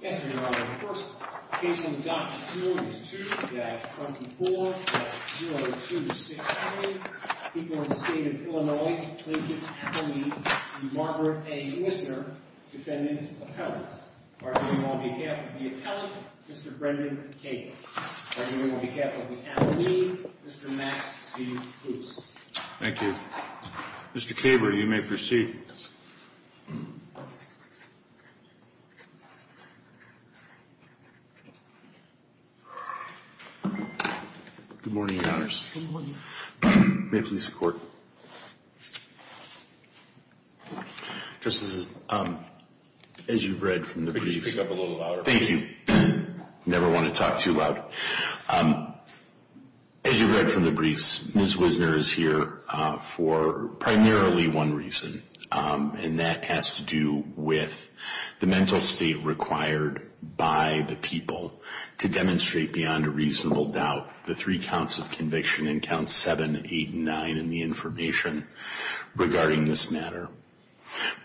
Thank you, Mr. Caber. You may proceed. Good morning, Your Honors. May it please the Court. Justice, as you've read from the briefs... Could you speak up a little louder? Thank you. Never want to talk too loud. As you've read from the briefs, Ms. Wisner is here for primarily one reason, and that has to do with the mental state required by the people to demonstrate beyond a reasonable doubt the three counts of conviction in Counts 7, 8, and 9 in the information regarding this matter.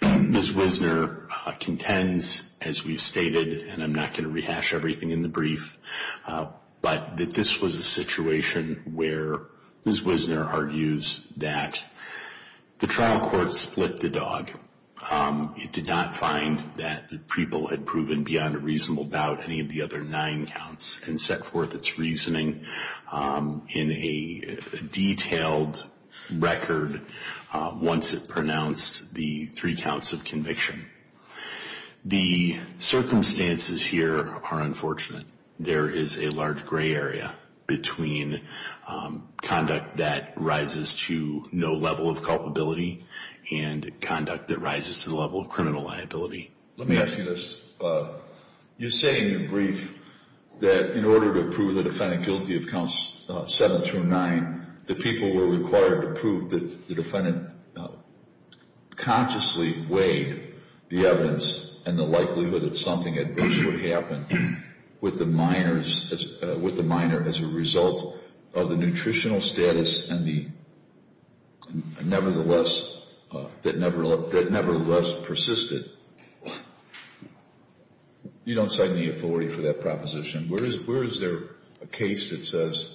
Ms. Wisner contends, as we've stated, and I'm not going to rehash everything in the brief, but that this was a situation where Ms. Wisner argues that the trial court split the dog. It did not find that the people had proven beyond a reasonable doubt any of the other nine counts and set forth its reasoning in a detailed record once it pronounced the three counts of conviction. The circumstances here are unfortunate. There is a large gray area between conduct that rises to no level of culpability and conduct that rises to the level of criminal liability. Let me ask you this. You say in your brief that in order to prove the defendant guilty of Counts 7 through 9, the people were required to prove that the defendant consciously weighed the evidence and the likelihood that something adverse would happen with the minor as a result of the nutritional status that nevertheless persisted. You don't cite any authority for that proposition. Where is there a case that says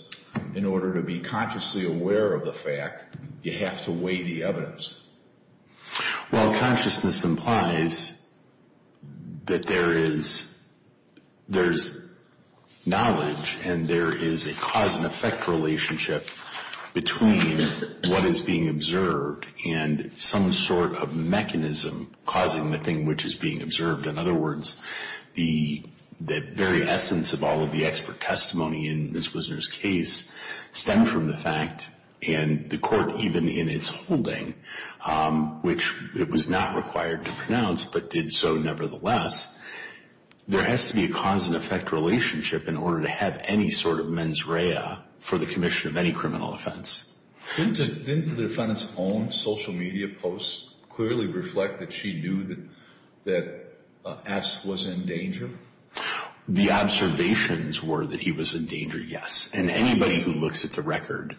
in order to be consciously aware of the fact, you have to weigh the evidence? Well, consciousness implies that there is knowledge and there is a cause and effect relationship between what is being observed and some sort of mechanism causing the thing which is being observed. In other words, the very essence of all of the expert testimony in Ms. Wisner's case stemmed from the fact and the court even in its holding, which it was not required to pronounce but did so nevertheless, there has to be a cause and effect relationship in order to have any sort of mens rea for the commission of any criminal offense. Didn't the defendant's own social media posts clearly reflect that she knew that S was in danger? The observations were that he was in danger, yes. And anybody who looks at the record,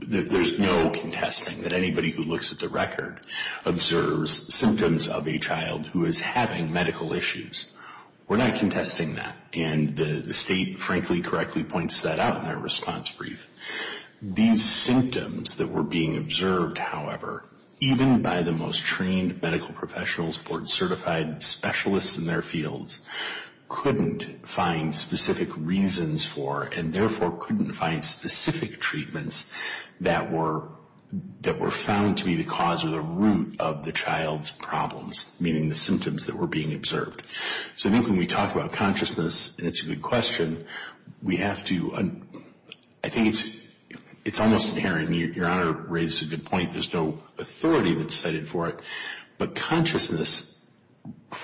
there's no contesting that anybody who looks at the record observes symptoms of a child who is having medical issues. We're not contesting that. And the state frankly correctly points that out in their response brief. These symptoms that were being observed, however, even by the most trained medical professionals, board certified specialists in their fields, couldn't find specific reasons for and therefore couldn't find specific treatments that were found to be the cause or the root of the child's problems, meaning the symptoms that were being observed. So I think when we talk about consciousness, and it's a good question, we have to, I think it's almost inherent. Your Honor raises a good point. There's no authority that's cited for it. But consciousness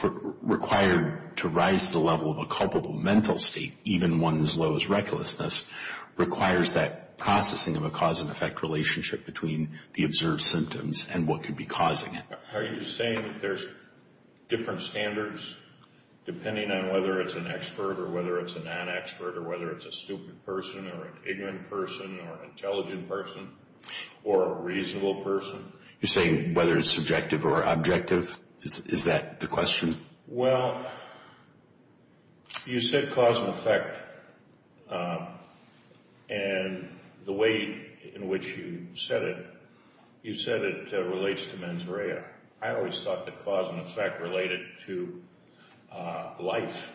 required to rise to the level of a culpable mental state, even one as low as recklessness, requires that processing of a cause and effect relationship between the observed symptoms and what could be causing it. Are you saying that there's different standards depending on whether it's an expert or whether it's a non-expert or whether it's a stupid person or an ignorant person or an intelligent person or a reasonable person? You're saying whether it's subjective or objective? Is that the question? Well, you said cause and effect. And the way in which you said it, you said it relates to mens rea. I always thought that cause and effect related to life,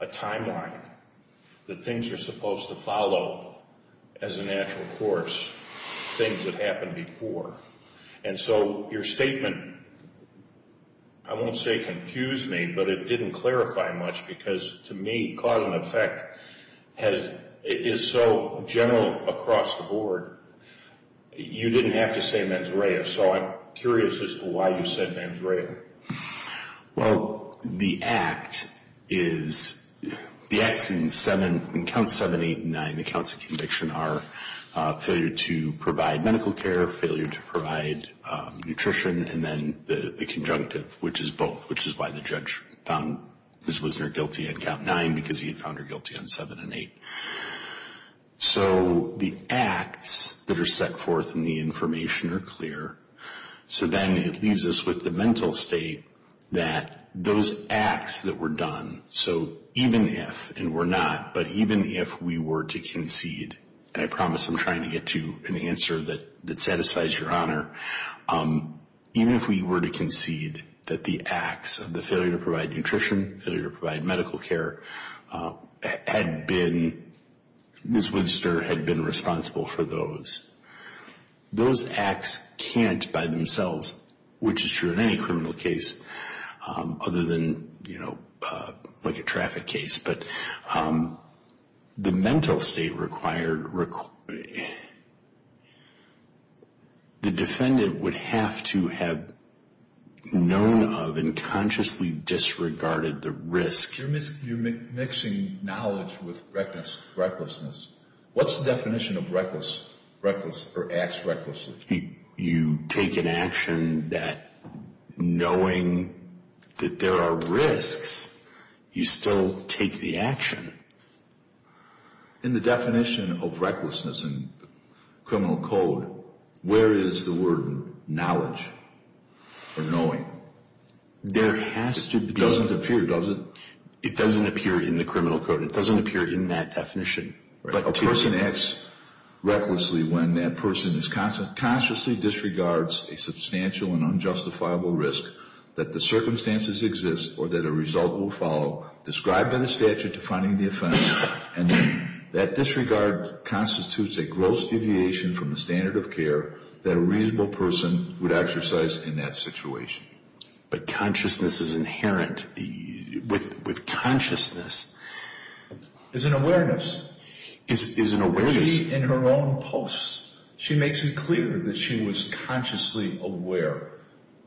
a timeline, that things are supposed to follow as a natural course, things that happened before. And so your statement, I won't say confused me, but it didn't clarify much because to me cause and effect is so general across the board. You didn't have to say mens rea. So I'm curious as to why you said mens rea. Well, the act is in Counts 7, 8, and 9, the counts of conviction, are failure to provide medical care, failure to provide nutrition, and then the conjunctive, which is both, which is why the judge found Ms. Wisner guilty in Count 9 because he had found her guilty on 7 and 8. So the acts that are set forth in the information are clear. So then it leaves us with the mental state that those acts that were done, so even if, and were not, but even if we were to concede, and I promise I'm trying to get to an answer that satisfies your honor, even if we were to concede that the acts of the failure to provide nutrition, failure to provide medical care, had been, Ms. Wisner had been responsible for those, those acts can't by themselves, which is true in any criminal case other than, you know, like a traffic case, but the mental state required, the defendant would have to have known of and consciously disregarded the risk. You're mixing knowledge with recklessness. What's the definition of reckless, reckless, or acts recklessly? You take an action that knowing that there are risks, you still take the action. In the definition of recklessness in criminal code, where is the word knowledge or knowing? There has to be. It doesn't appear, does it? It doesn't appear in the criminal code. It doesn't appear in that definition. But a person acts recklessly when that person is, consciously disregards a substantial and unjustifiable risk that the circumstances exist or that a result will follow described in the statute defining the offense and that disregard constitutes a gross deviation from the standard of care that a reasonable person would exercise in that situation. But consciousness is inherent. With consciousness. Is an awareness. Is an awareness. She, in her own posts, she makes it clear that she was consciously aware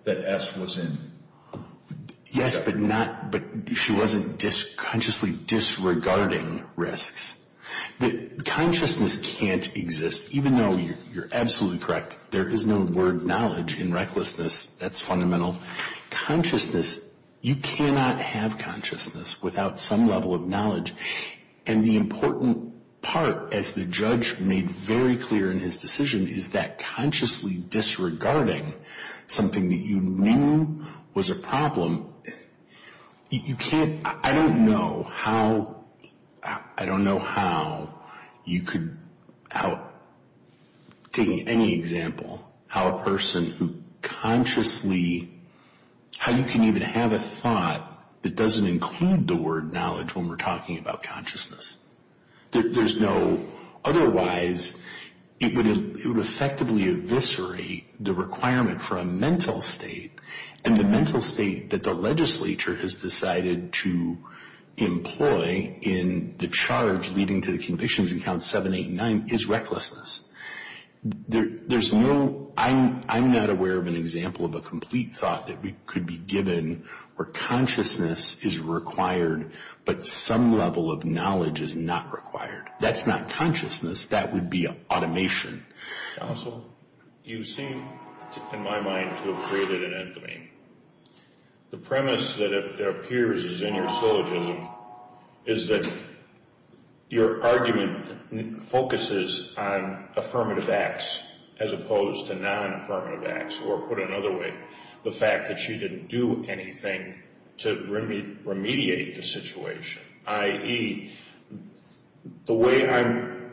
that S was in. Yes, but she wasn't consciously disregarding risks. Consciousness can't exist. Even though you're absolutely correct, there is no word knowledge in recklessness. That's fundamental. Consciousness, you cannot have consciousness without some level of knowledge. And the important part, as the judge made very clear in his decision, is that consciously disregarding something that you knew was a problem, you can't, I don't know how, I don't know how you could, how, taking any example, how a person who consciously, how you can even have a thought that doesn't include the word knowledge when we're talking about consciousness. There's no, otherwise it would effectively eviscerate the requirement for a mental state. And the mental state that the legislature has decided to employ in the charge leading to the convictions in Count 789 is recklessness. There's no, I'm not aware of an example of a complete thought that could be given where consciousness is required, but some level of knowledge is not required. That's not consciousness. That would be automation. Counsel, you seem, in my mind, to have created an end to me. The premise that appears is in your syllogism is that your argument focuses on affirmative acts as opposed to non-affirmative acts, or put another way, the fact that she didn't do anything to remediate the situation, i.e., the way I'm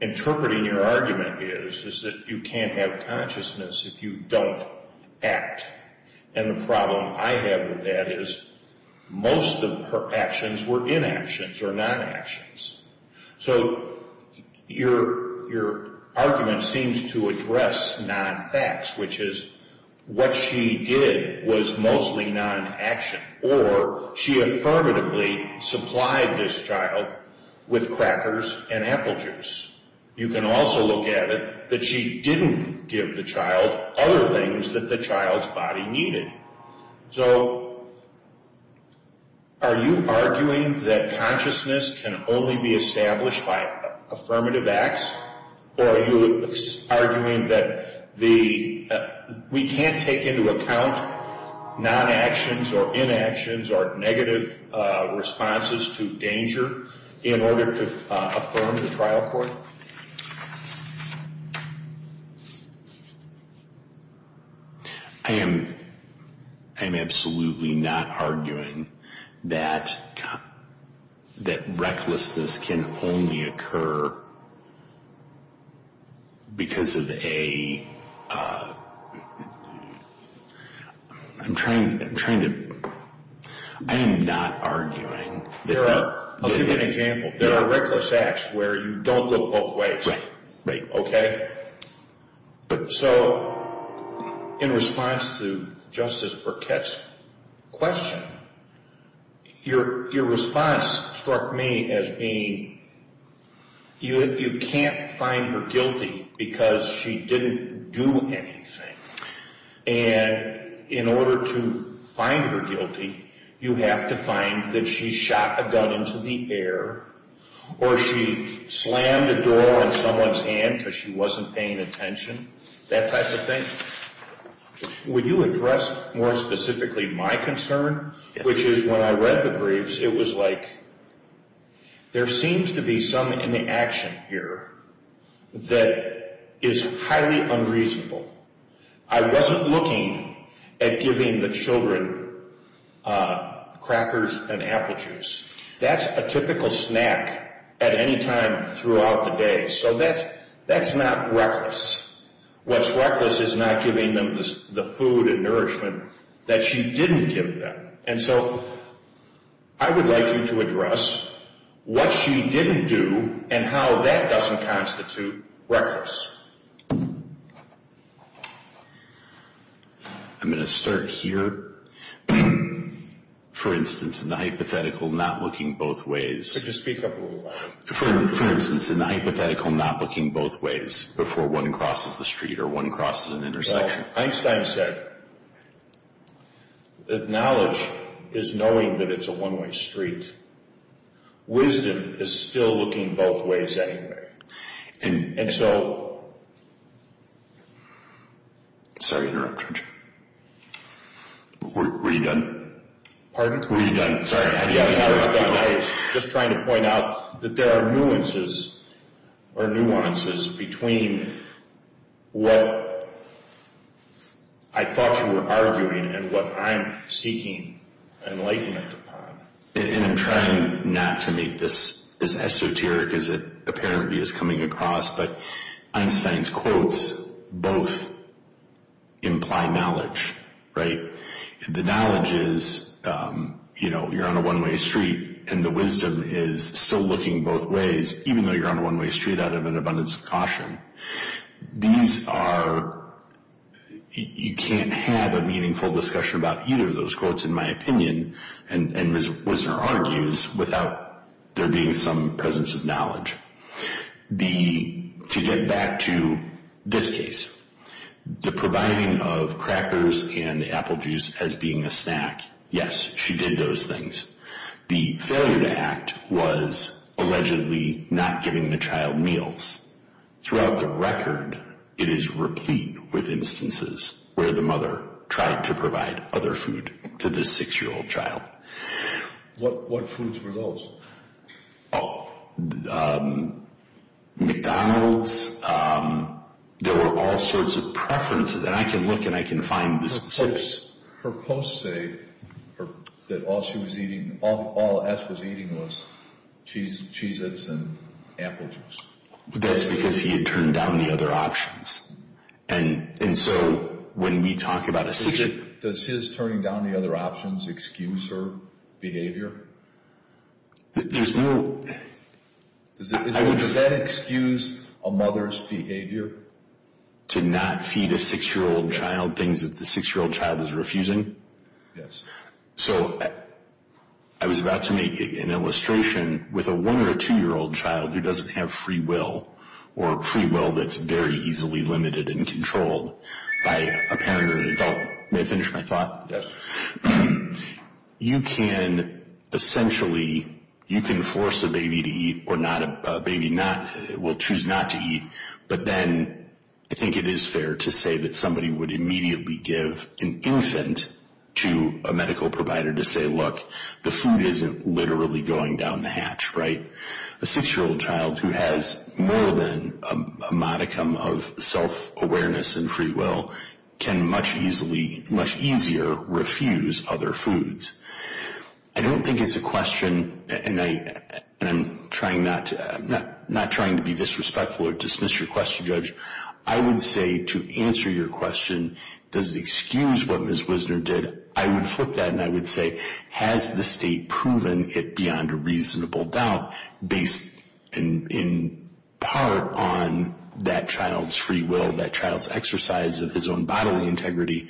interpreting your argument is that you can't have consciousness if you don't act. And the problem I have with that is most of her actions were inactions or non-actions. So your argument seems to address non-facts, which is what she did was mostly non-action, or she affirmatively supplied this child with crackers and apple juice. You can also look at it that she didn't give the child other things that the child's body needed. So are you arguing that consciousness can only be established by affirmative acts, or are you arguing that we can't take into account non-actions or inactions or negative responses to danger in order to affirm the trial court? I am absolutely not arguing that recklessness can only occur because of a—I'm trying to—I am not arguing that— I'll give you an example. There are reckless acts where you don't look both ways. Okay? So in response to Justice Burkett's question, your response struck me as being, you can't find her guilty because she didn't do anything. And in order to find her guilty, you have to find that she shot a gun into the air or she slammed a door on someone's hand because she wasn't paying attention, that type of thing. Would you address more specifically my concern, which is when I read the briefs, it was like, there seems to be some inaction here that is highly unreasonable. I wasn't looking at giving the children crackers and apple juice. That's a typical snack at any time throughout the day, so that's not reckless. What's reckless is not giving them the food and nourishment that she didn't give them. And so I would like you to address what she didn't do and how that doesn't constitute reckless. I'm going to start here. For instance, in the hypothetical not looking both ways— Could you speak up a little louder? For instance, in the hypothetical not looking both ways before one crosses the street or one crosses an intersection. Einstein said that knowledge is knowing that it's a one-way street. Wisdom is still looking both ways anyway. And so— Sorry to interrupt, Judge. Were you done? Pardon? Were you done? Sorry. I was just trying to point out that there are nuances between what I thought you were arguing and what I'm seeking enlightenment upon. And I'm trying not to make this as esoteric as it apparently is coming across, but Einstein's quotes both imply knowledge, right? The knowledge is, you know, you're on a one-way street and the wisdom is still looking both ways, even though you're on a one-way street out of an abundance of caution. These are—you can't have a meaningful discussion about either of those quotes, in my opinion, and Ms. Wisner argues, without there being some presence of knowledge. To get back to this case, the providing of crackers and apple juice as being a snack, yes, she did those things. The failure to act was allegedly not giving the child meals. Throughout the record, it is replete with instances where the mother tried to provide other food to this six-year-old child. What foods were those? Oh, McDonald's. There were all sorts of preferences, and I can look and I can find the specifics. Her posts say that all she was eating—all S was eating was Cheez-Its and apple juice. That's because he had turned down the other options. And so when we talk about a— Does his turning down the other options excuse her behavior? There's no— Does that excuse a mother's behavior? To not feed a six-year-old child things that the six-year-old child is refusing? Yes. So I was about to make an illustration with a one- or a two-year-old child who doesn't have free will, or free will that's very easily limited and controlled by a parent or an adult. May I finish my thought? Yes. You can essentially—you can force a baby to eat or not—a baby will choose not to eat, but then I think it is fair to say that somebody would immediately give an infant to a medical provider to say, look, the food isn't literally going down the hatch, right? A six-year-old child who has more than a modicum of self-awareness and free will can much easier refuse other foods. I don't think it's a question—and I'm trying not to—I'm not trying to be disrespectful or dismiss your question, Judge. I would say to answer your question, does it excuse what Ms. Wisner did? I would flip that and I would say, has the state proven it beyond a reasonable doubt? Based in part on that child's free will, that child's exercise of his own bodily integrity,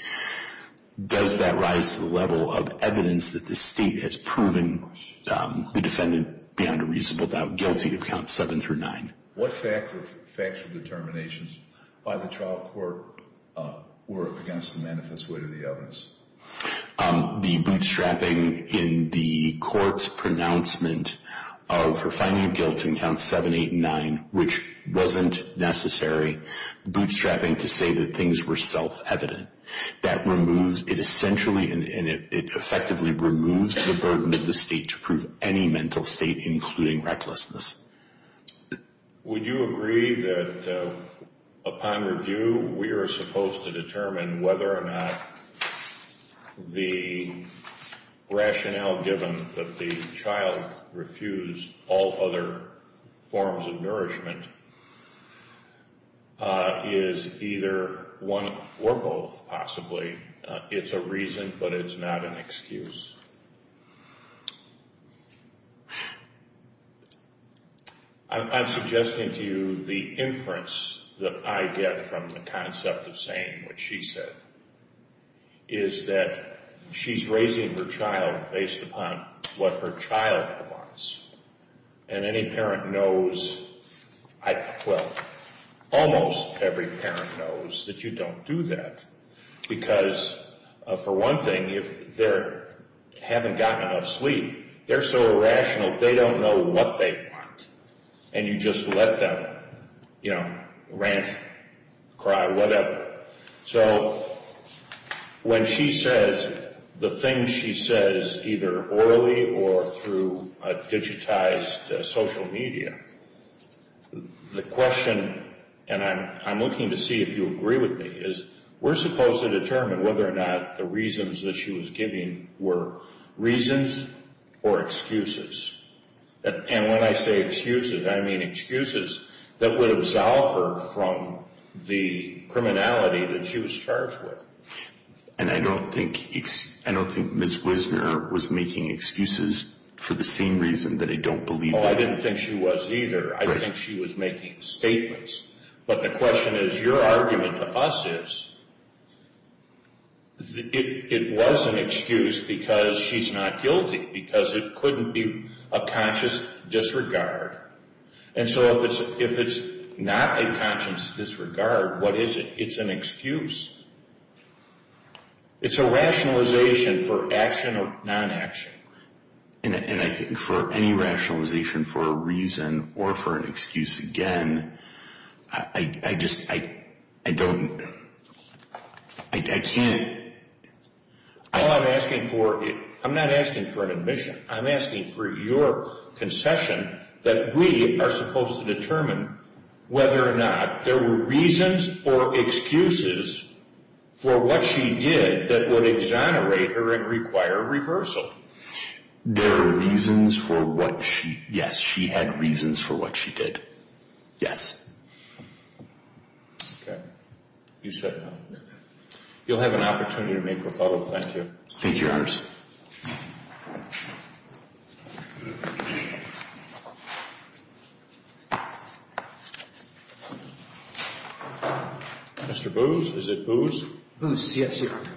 does that rise to the level of evidence that the state has proven the defendant beyond a reasonable doubt guilty of Counts 7 through 9? What factual determinations by the trial court were against the manifest weight of the evidence? The bootstrapping in the court's pronouncement of her finding of guilt in Counts 7, 8, and 9, which wasn't necessary bootstrapping to say that things were self-evident. That removes—it essentially and it effectively removes the burden of the state to prove any mental state, including recklessness. Would you agree that upon review we are supposed to determine whether or not the rationale given that the child refused all other forms of nourishment is either one or both, possibly? It's a reason, but it's not an excuse. I'm suggesting to you the inference that I get from the concept of saying what she said, is that she's raising her child based upon what her child wants. And any parent knows—well, almost every parent knows that you don't do that, because, for one thing, if they haven't gotten enough sleep, they're so irrational they don't know what they want. And you just let them, you know, rant, cry, whatever. So when she says the things she says, either orally or through digitized social media, the question—and I'm looking to see if you agree with me—is we're supposed to determine whether or not the reasons that she was giving were reasons or excuses. And when I say excuses, I mean excuses that would absolve her from the criminality that she was charged with. And I don't think Ms. Wisner was making excuses for the same reason, that I don't believe— No, I didn't think she was either. I think she was making statements. But the question is, your argument to us is, it was an excuse because she's not guilty, because it couldn't be a conscious disregard. And so if it's not a conscious disregard, what is it? It's an excuse. It's a rationalization for action or non-action. And I think for any rationalization for a reason or for an excuse, again, I just—I don't—I can't— I'm not asking for an admission. I'm asking for your concession that we are supposed to determine whether or not there were reasons or excuses for what she did that would exonerate her and require reversal. There were reasons for what she—yes, she had reasons for what she did. Yes. Okay. You said—you'll have an opportunity to make a follow-up. Thank you. Thank you, Your Honor. Mr. Boos, is it Boos? Boos, yes, Your Honor.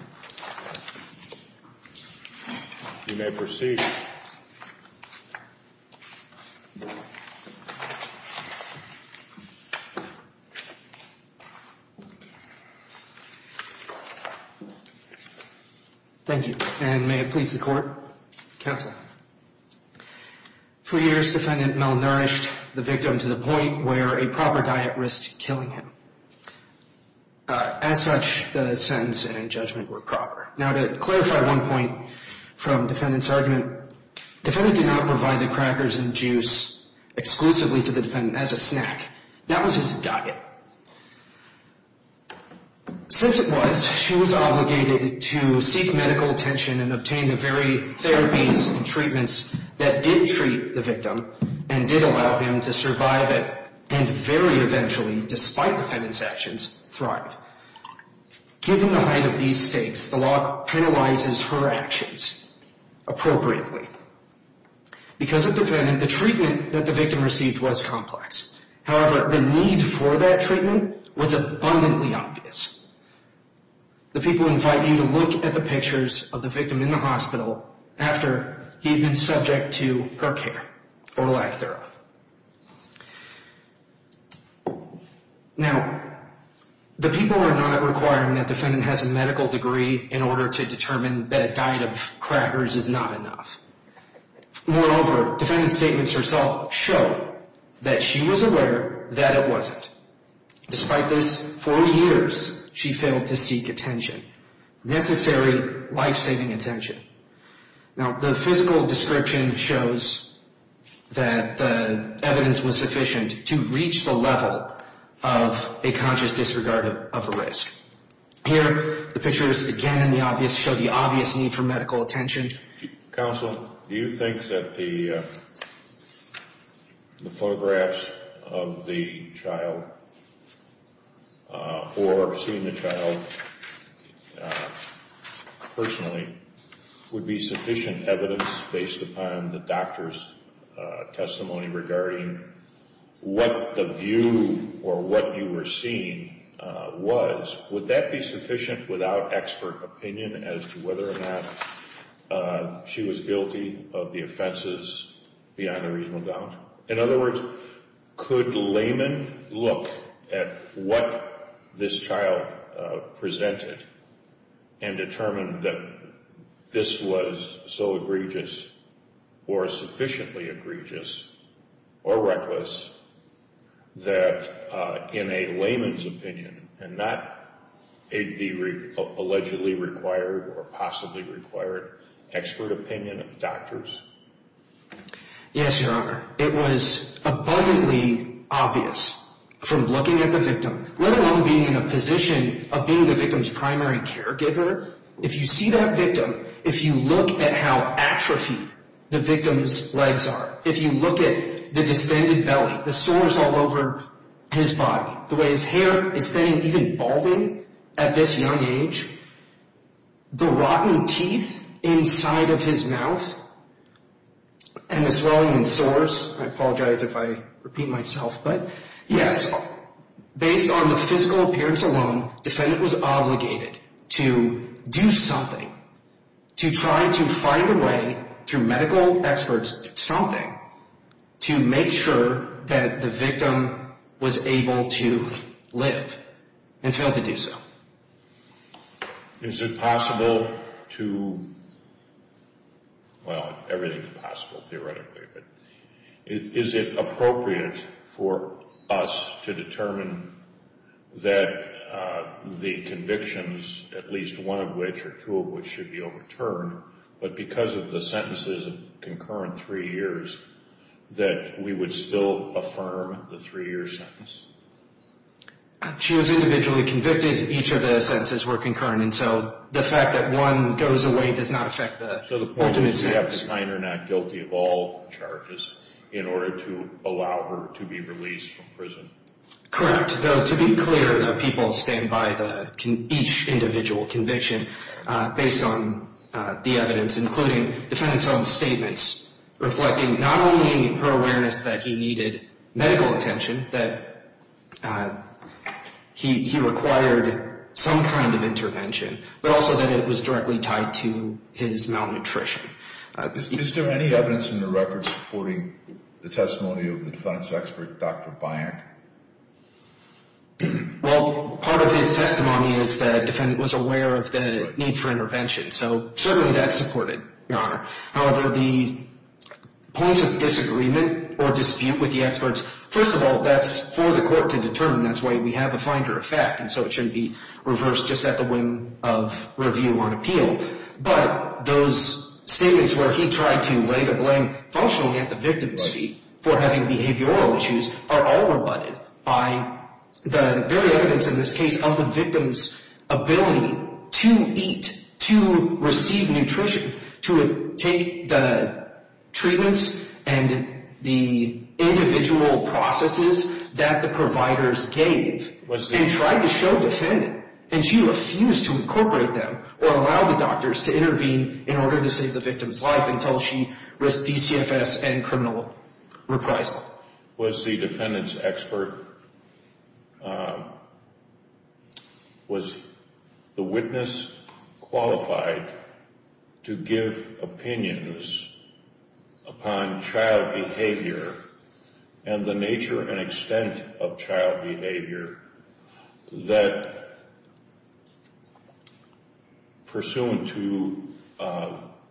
You may proceed. Thank you. And may it please the Court? Counsel. For years, defendant malnourished the victim to the point where a proper diet risked killing him. As such, the sentence and judgment were proper. Now, to clarify one point from defendant's argument, defendant did not provide the crackers and juice exclusively to the defendant as a snack. That was his diet. Since it was, she was obligated to seek medical attention and obtain the very therapies and treatments that did treat the victim and did allow him to survive it and very eventually, despite defendant's actions, thrive. Given the height of these stakes, the law penalizes her actions appropriately. Because of defendant, the treatment that the victim received was complex. However, the need for that treatment was abundantly obvious. The people invite you to look at the pictures of the victim in the hospital after he had been subject to her care or lack thereof. Now, the people are not requiring that defendant has a medical degree in order to determine that a diet of crackers is not enough. Moreover, defendant's statements herself show that she was aware that it wasn't. Despite this, for years, she failed to seek attention, necessary life-saving attention. Now, the physical description shows that the evidence was sufficient to reach the level of a conscious disregard of a risk. Here, the pictures again in the obvious show the obvious need for medical attention. Counsel, do you think that the photographs of the child or seeing the child personally would be sufficient evidence based upon the doctor's testimony regarding what the view or what you were seeing was? Would that be sufficient without expert opinion as to whether or not she was guilty of the offenses beyond a reasonable doubt? In other words, could layman look at what this child presented and determine that this was so egregious or sufficiently egregious or reckless that in a layman's opinion and not the allegedly required or possibly required expert opinion of doctors? Yes, Your Honor. It was abundantly obvious from looking at the victim, let alone being in a position of being the victim's primary caregiver. If you see that victim, if you look at how atrophied the victim's legs are, if you look at the distended belly, the sores all over his body, the way his hair is thinning, even balding at this young age, the rotten teeth inside of his mouth and the swelling and sores, I apologize if I repeat myself, but yes, based on the physical appearance alone, defendant was obligated to do something to try to find a way through medical experts something to make sure that the victim was able to live and failed to do so. Is it possible to, well, everything is possible theoretically, but is it appropriate for us to determine that the convictions, at least one of which or two of which should be overturned, but because of the sentences of concurrent three years, that we would still affirm the three-year sentence? She was individually convicted. Each of the sentences were concurrent, and so the fact that one goes away does not affect the ultimate sentence. So the point is you have to find her not guilty of all charges in order to allow her to be released from prison? Correct, though to be clear, people stand by each individual conviction based on the evidence, including defendant's own statements, reflecting not only her awareness that he needed medical attention, that he required some kind of intervention, but also that it was directly tied to his malnutrition. Is there any evidence in the record supporting the testimony of the defense expert, Dr. Byock? Well, part of his testimony is the defendant was aware of the need for intervention, so certainly that's supported, Your Honor. However, the points of disagreement or dispute with the experts, first of all, that's for the court to determine. That's why we have a finder of fact, and so it shouldn't be reversed just at the whim of review on appeal. But those statements where he tried to lay the blame functionally at the victim's feet for having behavioral issues are all rebutted by the very evidence in this case of the victim's ability to eat, to receive nutrition, to take the treatments and the individual processes that the providers gave and tried to show defendant, and she refused to incorporate them or allow the doctors to intervene in order to save the victim's life until she risked DCFS and criminal reprisal. Byock was the defendant's expert, was the witness qualified to give opinions upon child behavior and the nature and extent of child behavior that, pursuant to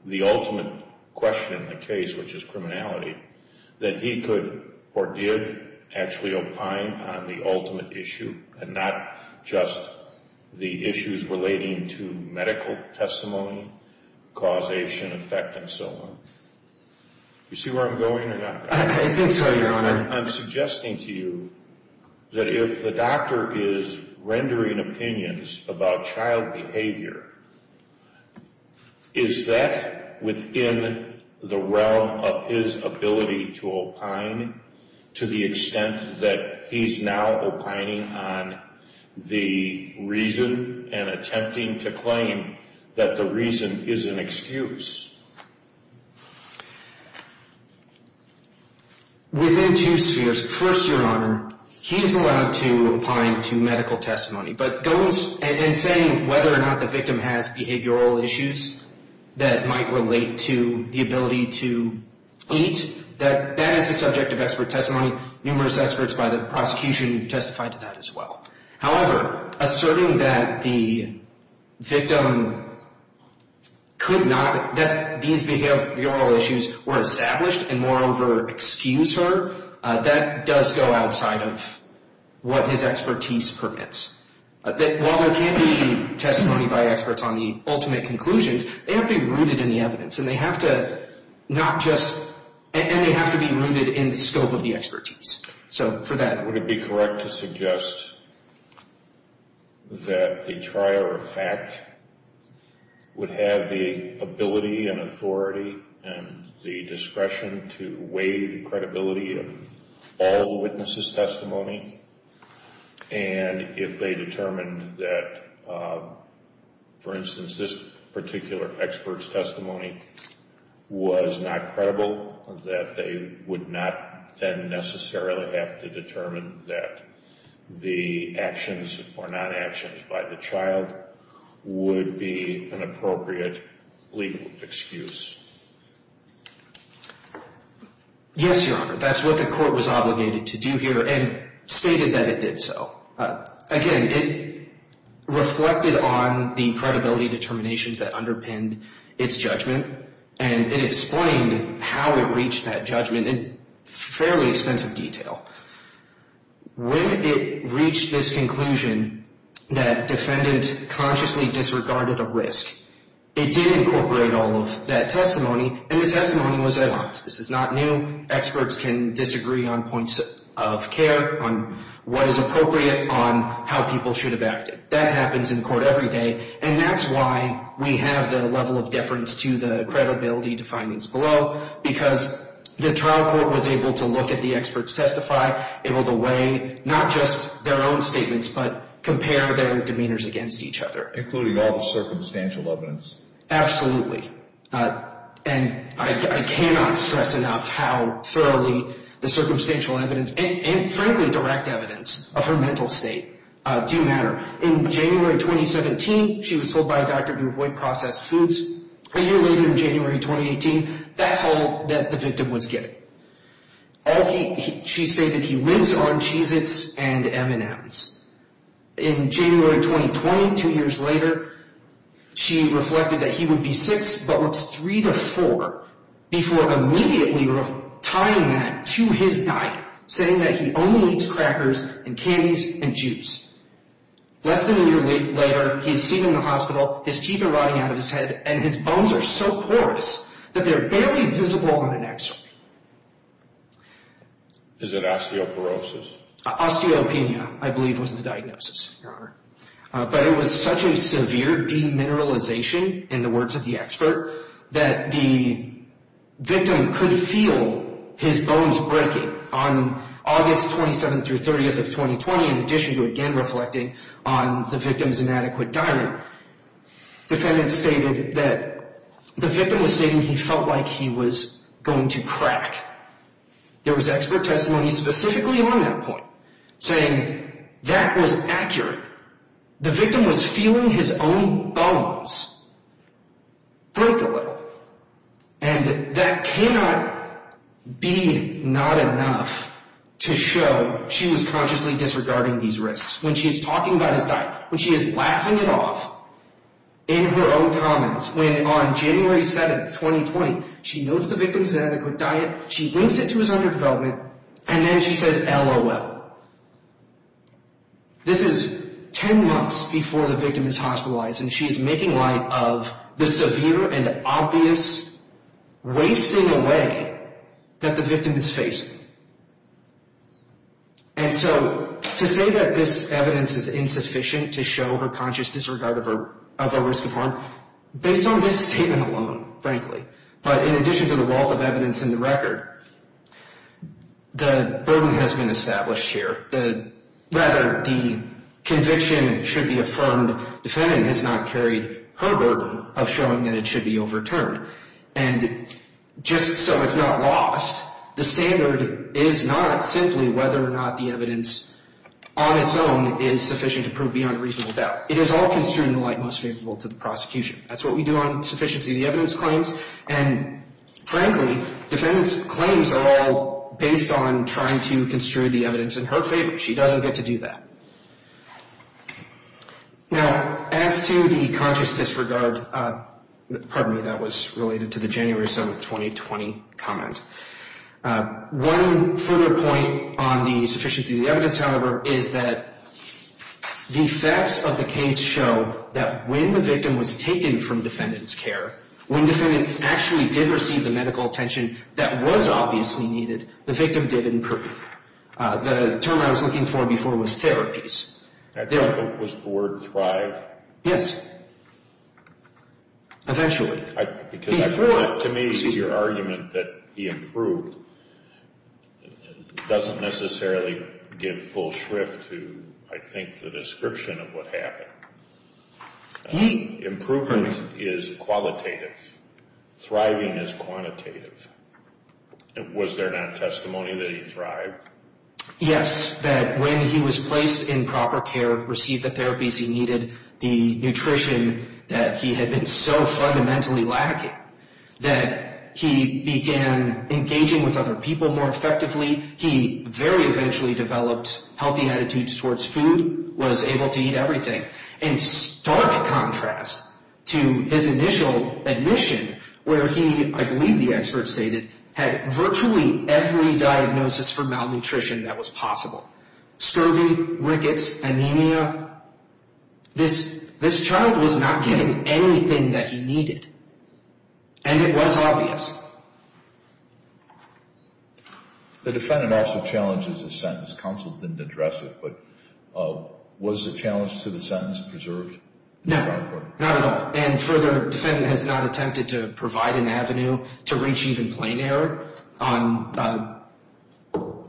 the ultimate question in the case, which is criminality, that he could or did actually opine on the ultimate issue and not just the issues relating to medical testimony, causation, effect, and so on. Do you see where I'm going or not? I think so, Your Honor. I'm suggesting to you that if the doctor is rendering opinions about child behavior, is that within the realm of his ability to opine to the extent that he's now opining on the reason and attempting to claim that the reason is an excuse? Within two spheres. First, Your Honor, he's allowed to opine to medical testimony, and saying whether or not the victim has behavioral issues that might relate to the ability to eat, that is the subject of expert testimony. Numerous experts by the prosecution testified to that as well. However, asserting that the victim could not, that these behavioral issues were established and, moreover, excuse her, that does go outside of what his expertise permits. While there can be testimony by experts on the ultimate conclusions, they have to be rooted in the evidence, and they have to not just, and they have to be rooted in the scope of the expertise. So for that. Would it be correct to suggest that the trier of fact would have the ability and authority and the discretion to weigh the credibility of all the witnesses' testimony? And if they determined that, for instance, this particular expert's testimony was not credible, that they would not then necessarily have to determine that the actions or non-actions by the child would be an appropriate legal excuse? Yes, Your Honor. That's what the court was obligated to do here and stated that it did so. Again, it reflected on the credibility determinations that underpinned its judgment, and it explained how it reached that judgment in fairly extensive detail. When it reached this conclusion that defendant consciously disregarded a risk, it did incorporate all of that testimony, and the testimony was at odds. This is not new. Experts can disagree on points of care, on what is appropriate on how people should have acted. That happens in court every day, and that's why we have the level of deference to the credibility definings below, because the trial court was able to look at the experts' testify, able to weigh not just their own statements, but compare their demeanors against each other. Including all the circumstantial evidence. Absolutely. And I cannot stress enough how thoroughly the circumstantial evidence and frankly direct evidence of her mental state do matter. In January 2017, she was told by a doctor to avoid processed foods. A year later in January 2018, that's all that the victim was getting. She stated he lives on Cheez-Its and M&Ms. In January 2020, two years later, she reflected that he would be six but was three to four, before immediately tying that to his diet, saying that he only eats crackers and candies and juice. Less than a year later, he is seen in the hospital, his teeth are rotting out of his head, and his bones are so porous that they're barely visible on an x-ray. Is it osteoporosis? Osteopenia, I believe, was the diagnosis, Your Honor. But it was such a severe demineralization, in the words of the expert, that the victim could feel his bones breaking. On August 27th through 30th of 2020, in addition to again reflecting on the victim's inadequate diet, the defendant stated that the victim was stating he felt like he was going to crack. There was expert testimony specifically on that point, saying that was accurate. The victim was feeling his own bones break a little. And that cannot be not enough to show she was consciously disregarding these risks. When she's talking about his diet, when she is laughing it off in her own comments, when on January 7th, 2020, she notes the victim's inadequate diet, she links it to his underdevelopment, and then she says, LOL. This is 10 months before the victim is hospitalized, and she's making light of the severe and obvious, wasting away that the victim is facing. And so to say that this evidence is insufficient to show her conscious disregard of a risk of harm, based on this statement alone, frankly, but in addition to the wealth of evidence in the record, the burden has been established here. Rather, the conviction should be affirmed. The defendant has not carried her burden of showing that it should be overturned. And just so it's not lost, the standard is not simply whether or not the evidence on its own is sufficient to prove beyond reasonable doubt. It is all construed in the light most favorable to the prosecution. That's what we do on sufficiency of the evidence claims. And frankly, defendant's claims are all based on trying to construe the evidence in her favor. She doesn't get to do that. Now, as to the conscious disregard, pardon me, that was related to the January 7, 2020, comment. One further point on the sufficiency of the evidence, however, is that the effects of the case show that when the victim was taken from defendant's care, when the defendant actually did receive the medical attention that was obviously needed, the victim did improve. The term I was looking for before was therapies. Was the word thrive? Yes. Eventually. To me, your argument that he improved doesn't necessarily give full shrift to, I think, the description of what happened. Improvement is qualitative. Thriving is quantitative. Was there not testimony that he thrived? Yes, that when he was placed in proper care, received the therapies he needed, the nutrition that he had been so fundamentally lacking, that he began engaging with other people more effectively. He very eventually developed healthy attitudes towards food, was able to eat everything. In stark contrast to his initial admission where he, I believe the expert stated, had virtually every diagnosis for malnutrition that was possible. Scurvy, rickets, anemia. This child was not getting anything that he needed. And it was obvious. The defendant also challenges a sentence. Counsel didn't address it. But was the challenge to the sentence preserved? No. Not at all. And further, the defendant has not attempted to provide an avenue to reach even plain error.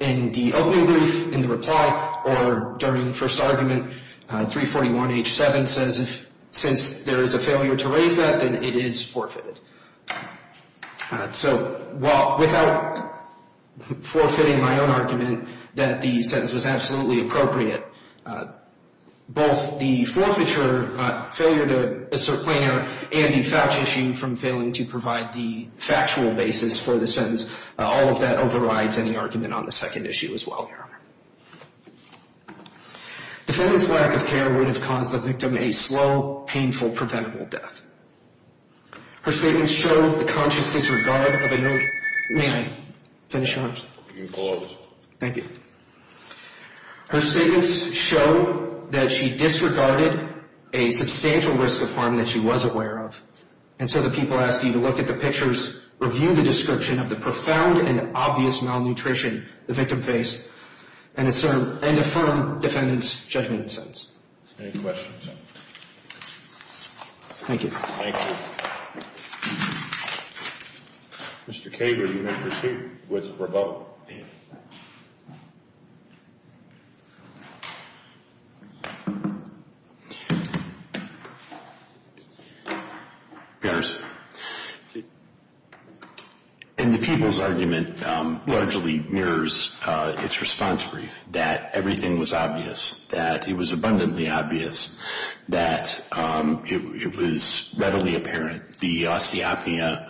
In the opening brief, in the reply, or during the first argument, 341H7 says, since there is a failure to raise that, then it is forfeited. So while without forfeiting my own argument that the sentence was absolutely appropriate, both the forfeiture, failure to assert plain error, and the Fouch issue from failing to provide the factual basis for the sentence, all of that overrides any argument on the second issue as well. The defendant's lack of care would have caused the victim a slow, painful, preventable death. Her statements show the conscious disregard of a note. May I finish up? You can close. Thank you. Her statements show that she disregarded a substantial risk of harm that she was aware of. And so the people asked you to look at the pictures, review the description of the profound and obvious malnutrition the victim faced, and affirm defendant's judgment in the sentence. Any questions? Thank you. Thank you. Mr. Caber, you may proceed with rebuttal. Yes. And the people's argument largely mirrors its response brief, that everything was obvious, that it was abundantly obvious, that it was readily apparent, the osteopnea,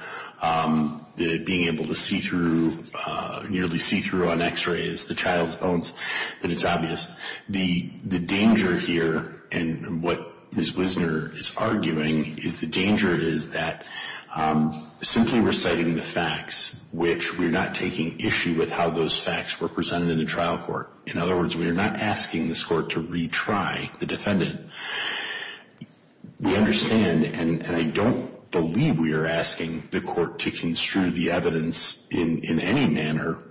the being able to see through, nearly see through on x-rays, the child's bones, that it's obvious. The danger here, and what Ms. Wisner is arguing, is the danger is that simply reciting the facts, which we're not taking issue with how those facts were presented in the trial court. In other words, we are not asking this court to retry the defendant. We understand, and I don't believe we are asking the court to construe the evidence in any manner,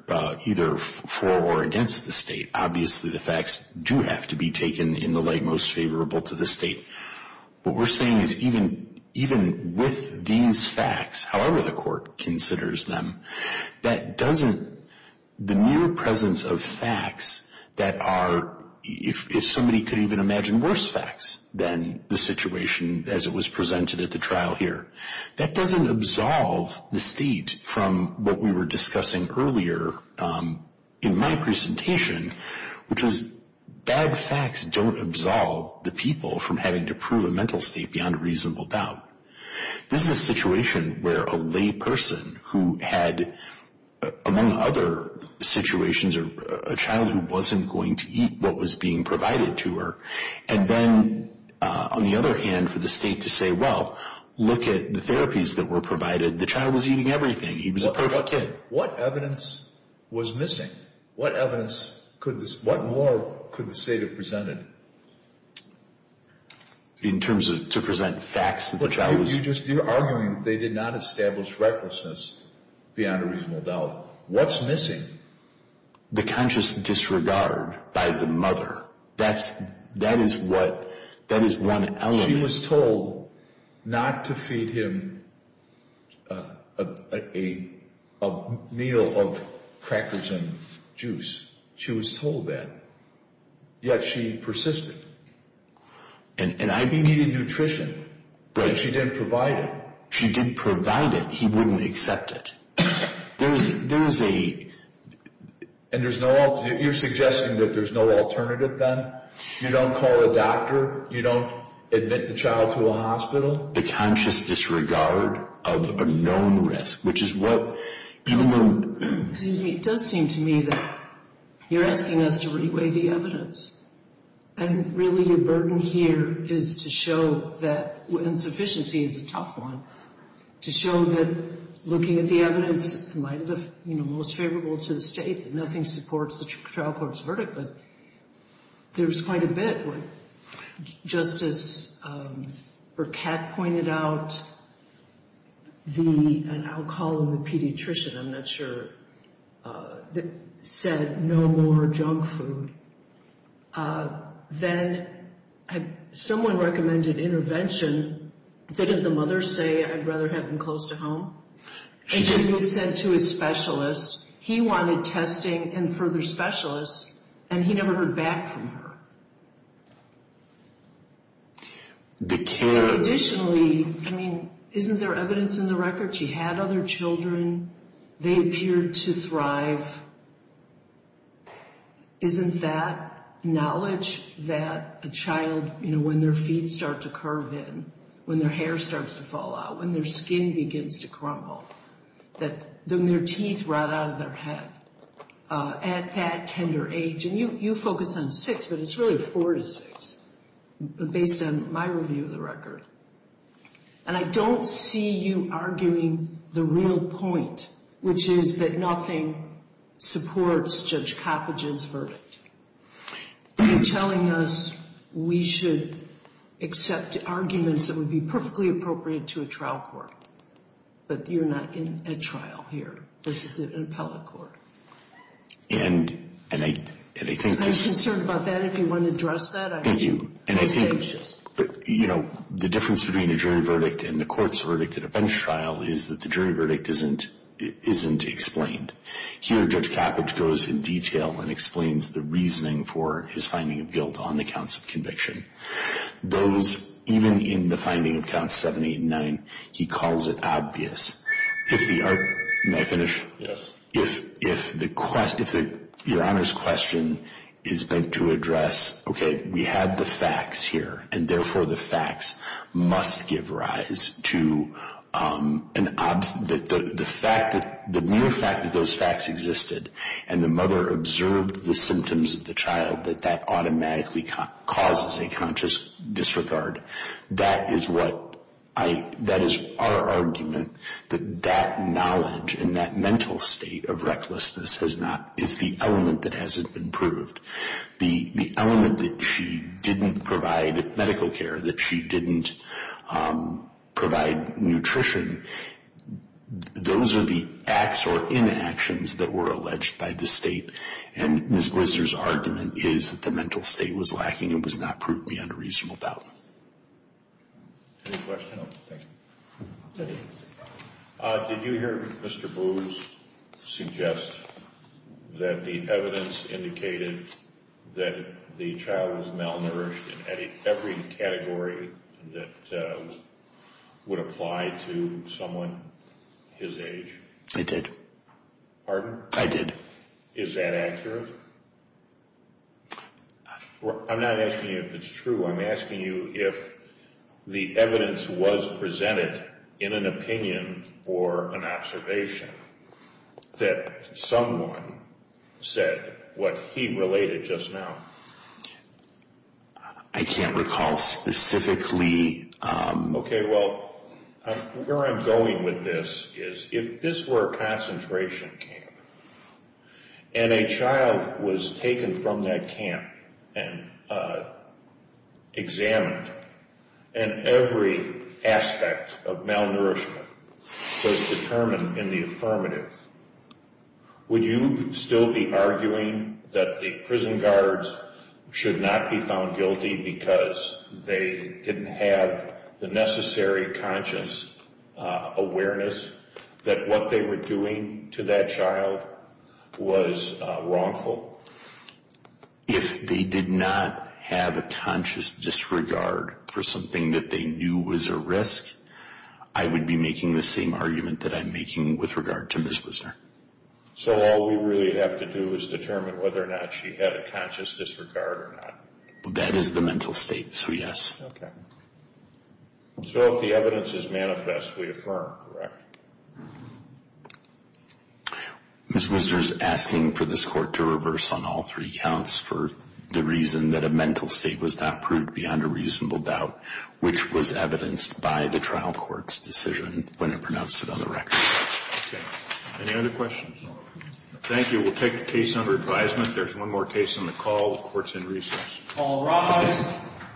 either for or against the state. Obviously the facts do have to be taken in the light most favorable to the state. What we're saying is even with these facts, however the court considers them, that doesn't, the mere presence of facts that are, if somebody could even imagine worse facts than the situation as it was presented at the trial here, that doesn't absolve the state from what we were discussing earlier in my presentation, which is bad facts don't absolve the people from having to prove a mental state beyond a reasonable doubt. This is a situation where a lay person who had, among other situations, a child who wasn't going to eat what was being provided to her, and then on the other hand for the state to say, well, look at the therapies that were provided, the child was eating everything, he was a perfect kid. What evidence was missing? What more could the state have presented? In terms of to present facts that the child was... You're arguing they did not establish recklessness beyond a reasonable doubt. What's missing? The conscious disregard by the mother. That is what, that is one element... She was told not to feed him a meal of crackers and juice. She was told that. Yet she persisted. And I... He needed nutrition, but she didn't provide it. She didn't provide it, he wouldn't accept it. There's a... And there's no... You're suggesting that there's no alternative then? You don't call a doctor? You don't admit the child to a hospital? The conscious disregard of a known risk, which is what... Excuse me. It does seem to me that you're asking us to re-weigh the evidence. And really your burden here is to show that insufficiency is a tough one, to show that looking at the evidence, it might be most favorable to the state that nothing supports the trial court's verdict, but there's quite a bit where Justice Burkett pointed out the... And I'll call on the pediatrician, I'm not sure, that said no more junk food. Then someone recommended intervention. Didn't the mother say, I'd rather have him close to home? And then you said to his specialist, he wanted testing and further specialists, and he never heard back from her. The care... She had other children. They appeared to thrive. Isn't that knowledge that a child, you know, when their feet start to curve in, when their hair starts to fall out, when their skin begins to crumble, that their teeth rot out of their head at that tender age? And you focus on six, but it's really four to six based on my review of the record. And I don't see you arguing the real point, which is that nothing supports Judge Coppedge's verdict. You're telling us we should accept arguments that would be perfectly appropriate to a trial court, but you're not in a trial here. This is an appellate court. And I think this... I'm concerned about that. If you want to address that, I can. And I think, you know, the difference between a jury verdict and the court's verdict at a bench trial is that the jury verdict isn't explained. Here, Judge Coppedge goes in detail and explains the reasoning for his finding of guilt on the counts of conviction. Those, even in the finding of Count 789, he calls it obvious. If the... May I finish? Yes. If your Honor's question is meant to address, okay, we have the facts here, and therefore the facts must give rise to the mere fact that those facts existed and the mother observed the symptoms of the child, that that automatically causes a conscious disregard, that is what I... That is our argument, that that knowledge and that mental state of recklessness has not... is the element that hasn't been proved. The element that she didn't provide medical care, that she didn't provide nutrition, those are the acts or inactions that were alleged by the state, and Ms. Glisser's argument is that the mental state was lacking and was not proved beyond a reasonable doubt. Any questions? Did you hear Mr. Booz suggest that the evidence indicated that the child was malnourished in every category that would apply to someone his age? I did. Pardon? I did. Is that accurate? I'm not asking you if it's true. I'm asking you if the evidence was presented in an opinion or an observation that someone said what he related just now. I can't recall specifically. Okay, well, where I'm going with this is if this were a concentration camp and a child was taken from that camp and examined and every aspect of malnourishment was determined in the affirmative, would you still be arguing that the prison guards should not be found guilty because they didn't have the necessary conscious awareness that what they were doing to that child was wrongful? If they did not have a conscious disregard for something that they knew was a risk, I would be making the same argument that I'm making with regard to Ms. Wisner. So all we really have to do is determine whether or not she had a conscious disregard or not. That is the mental state, so yes. So if the evidence is manifest, we affirm, correct? Ms. Wisner is asking for this Court to reverse on all three counts for the reason that a mental state was not proved beyond a reasonable doubt, which was evidenced by the trial court's decision when it pronounced it on the record. Okay. Any other questions? No. Thank you. We'll take the case under advisement. There's one more case on the call. The Court's in recess. All rise.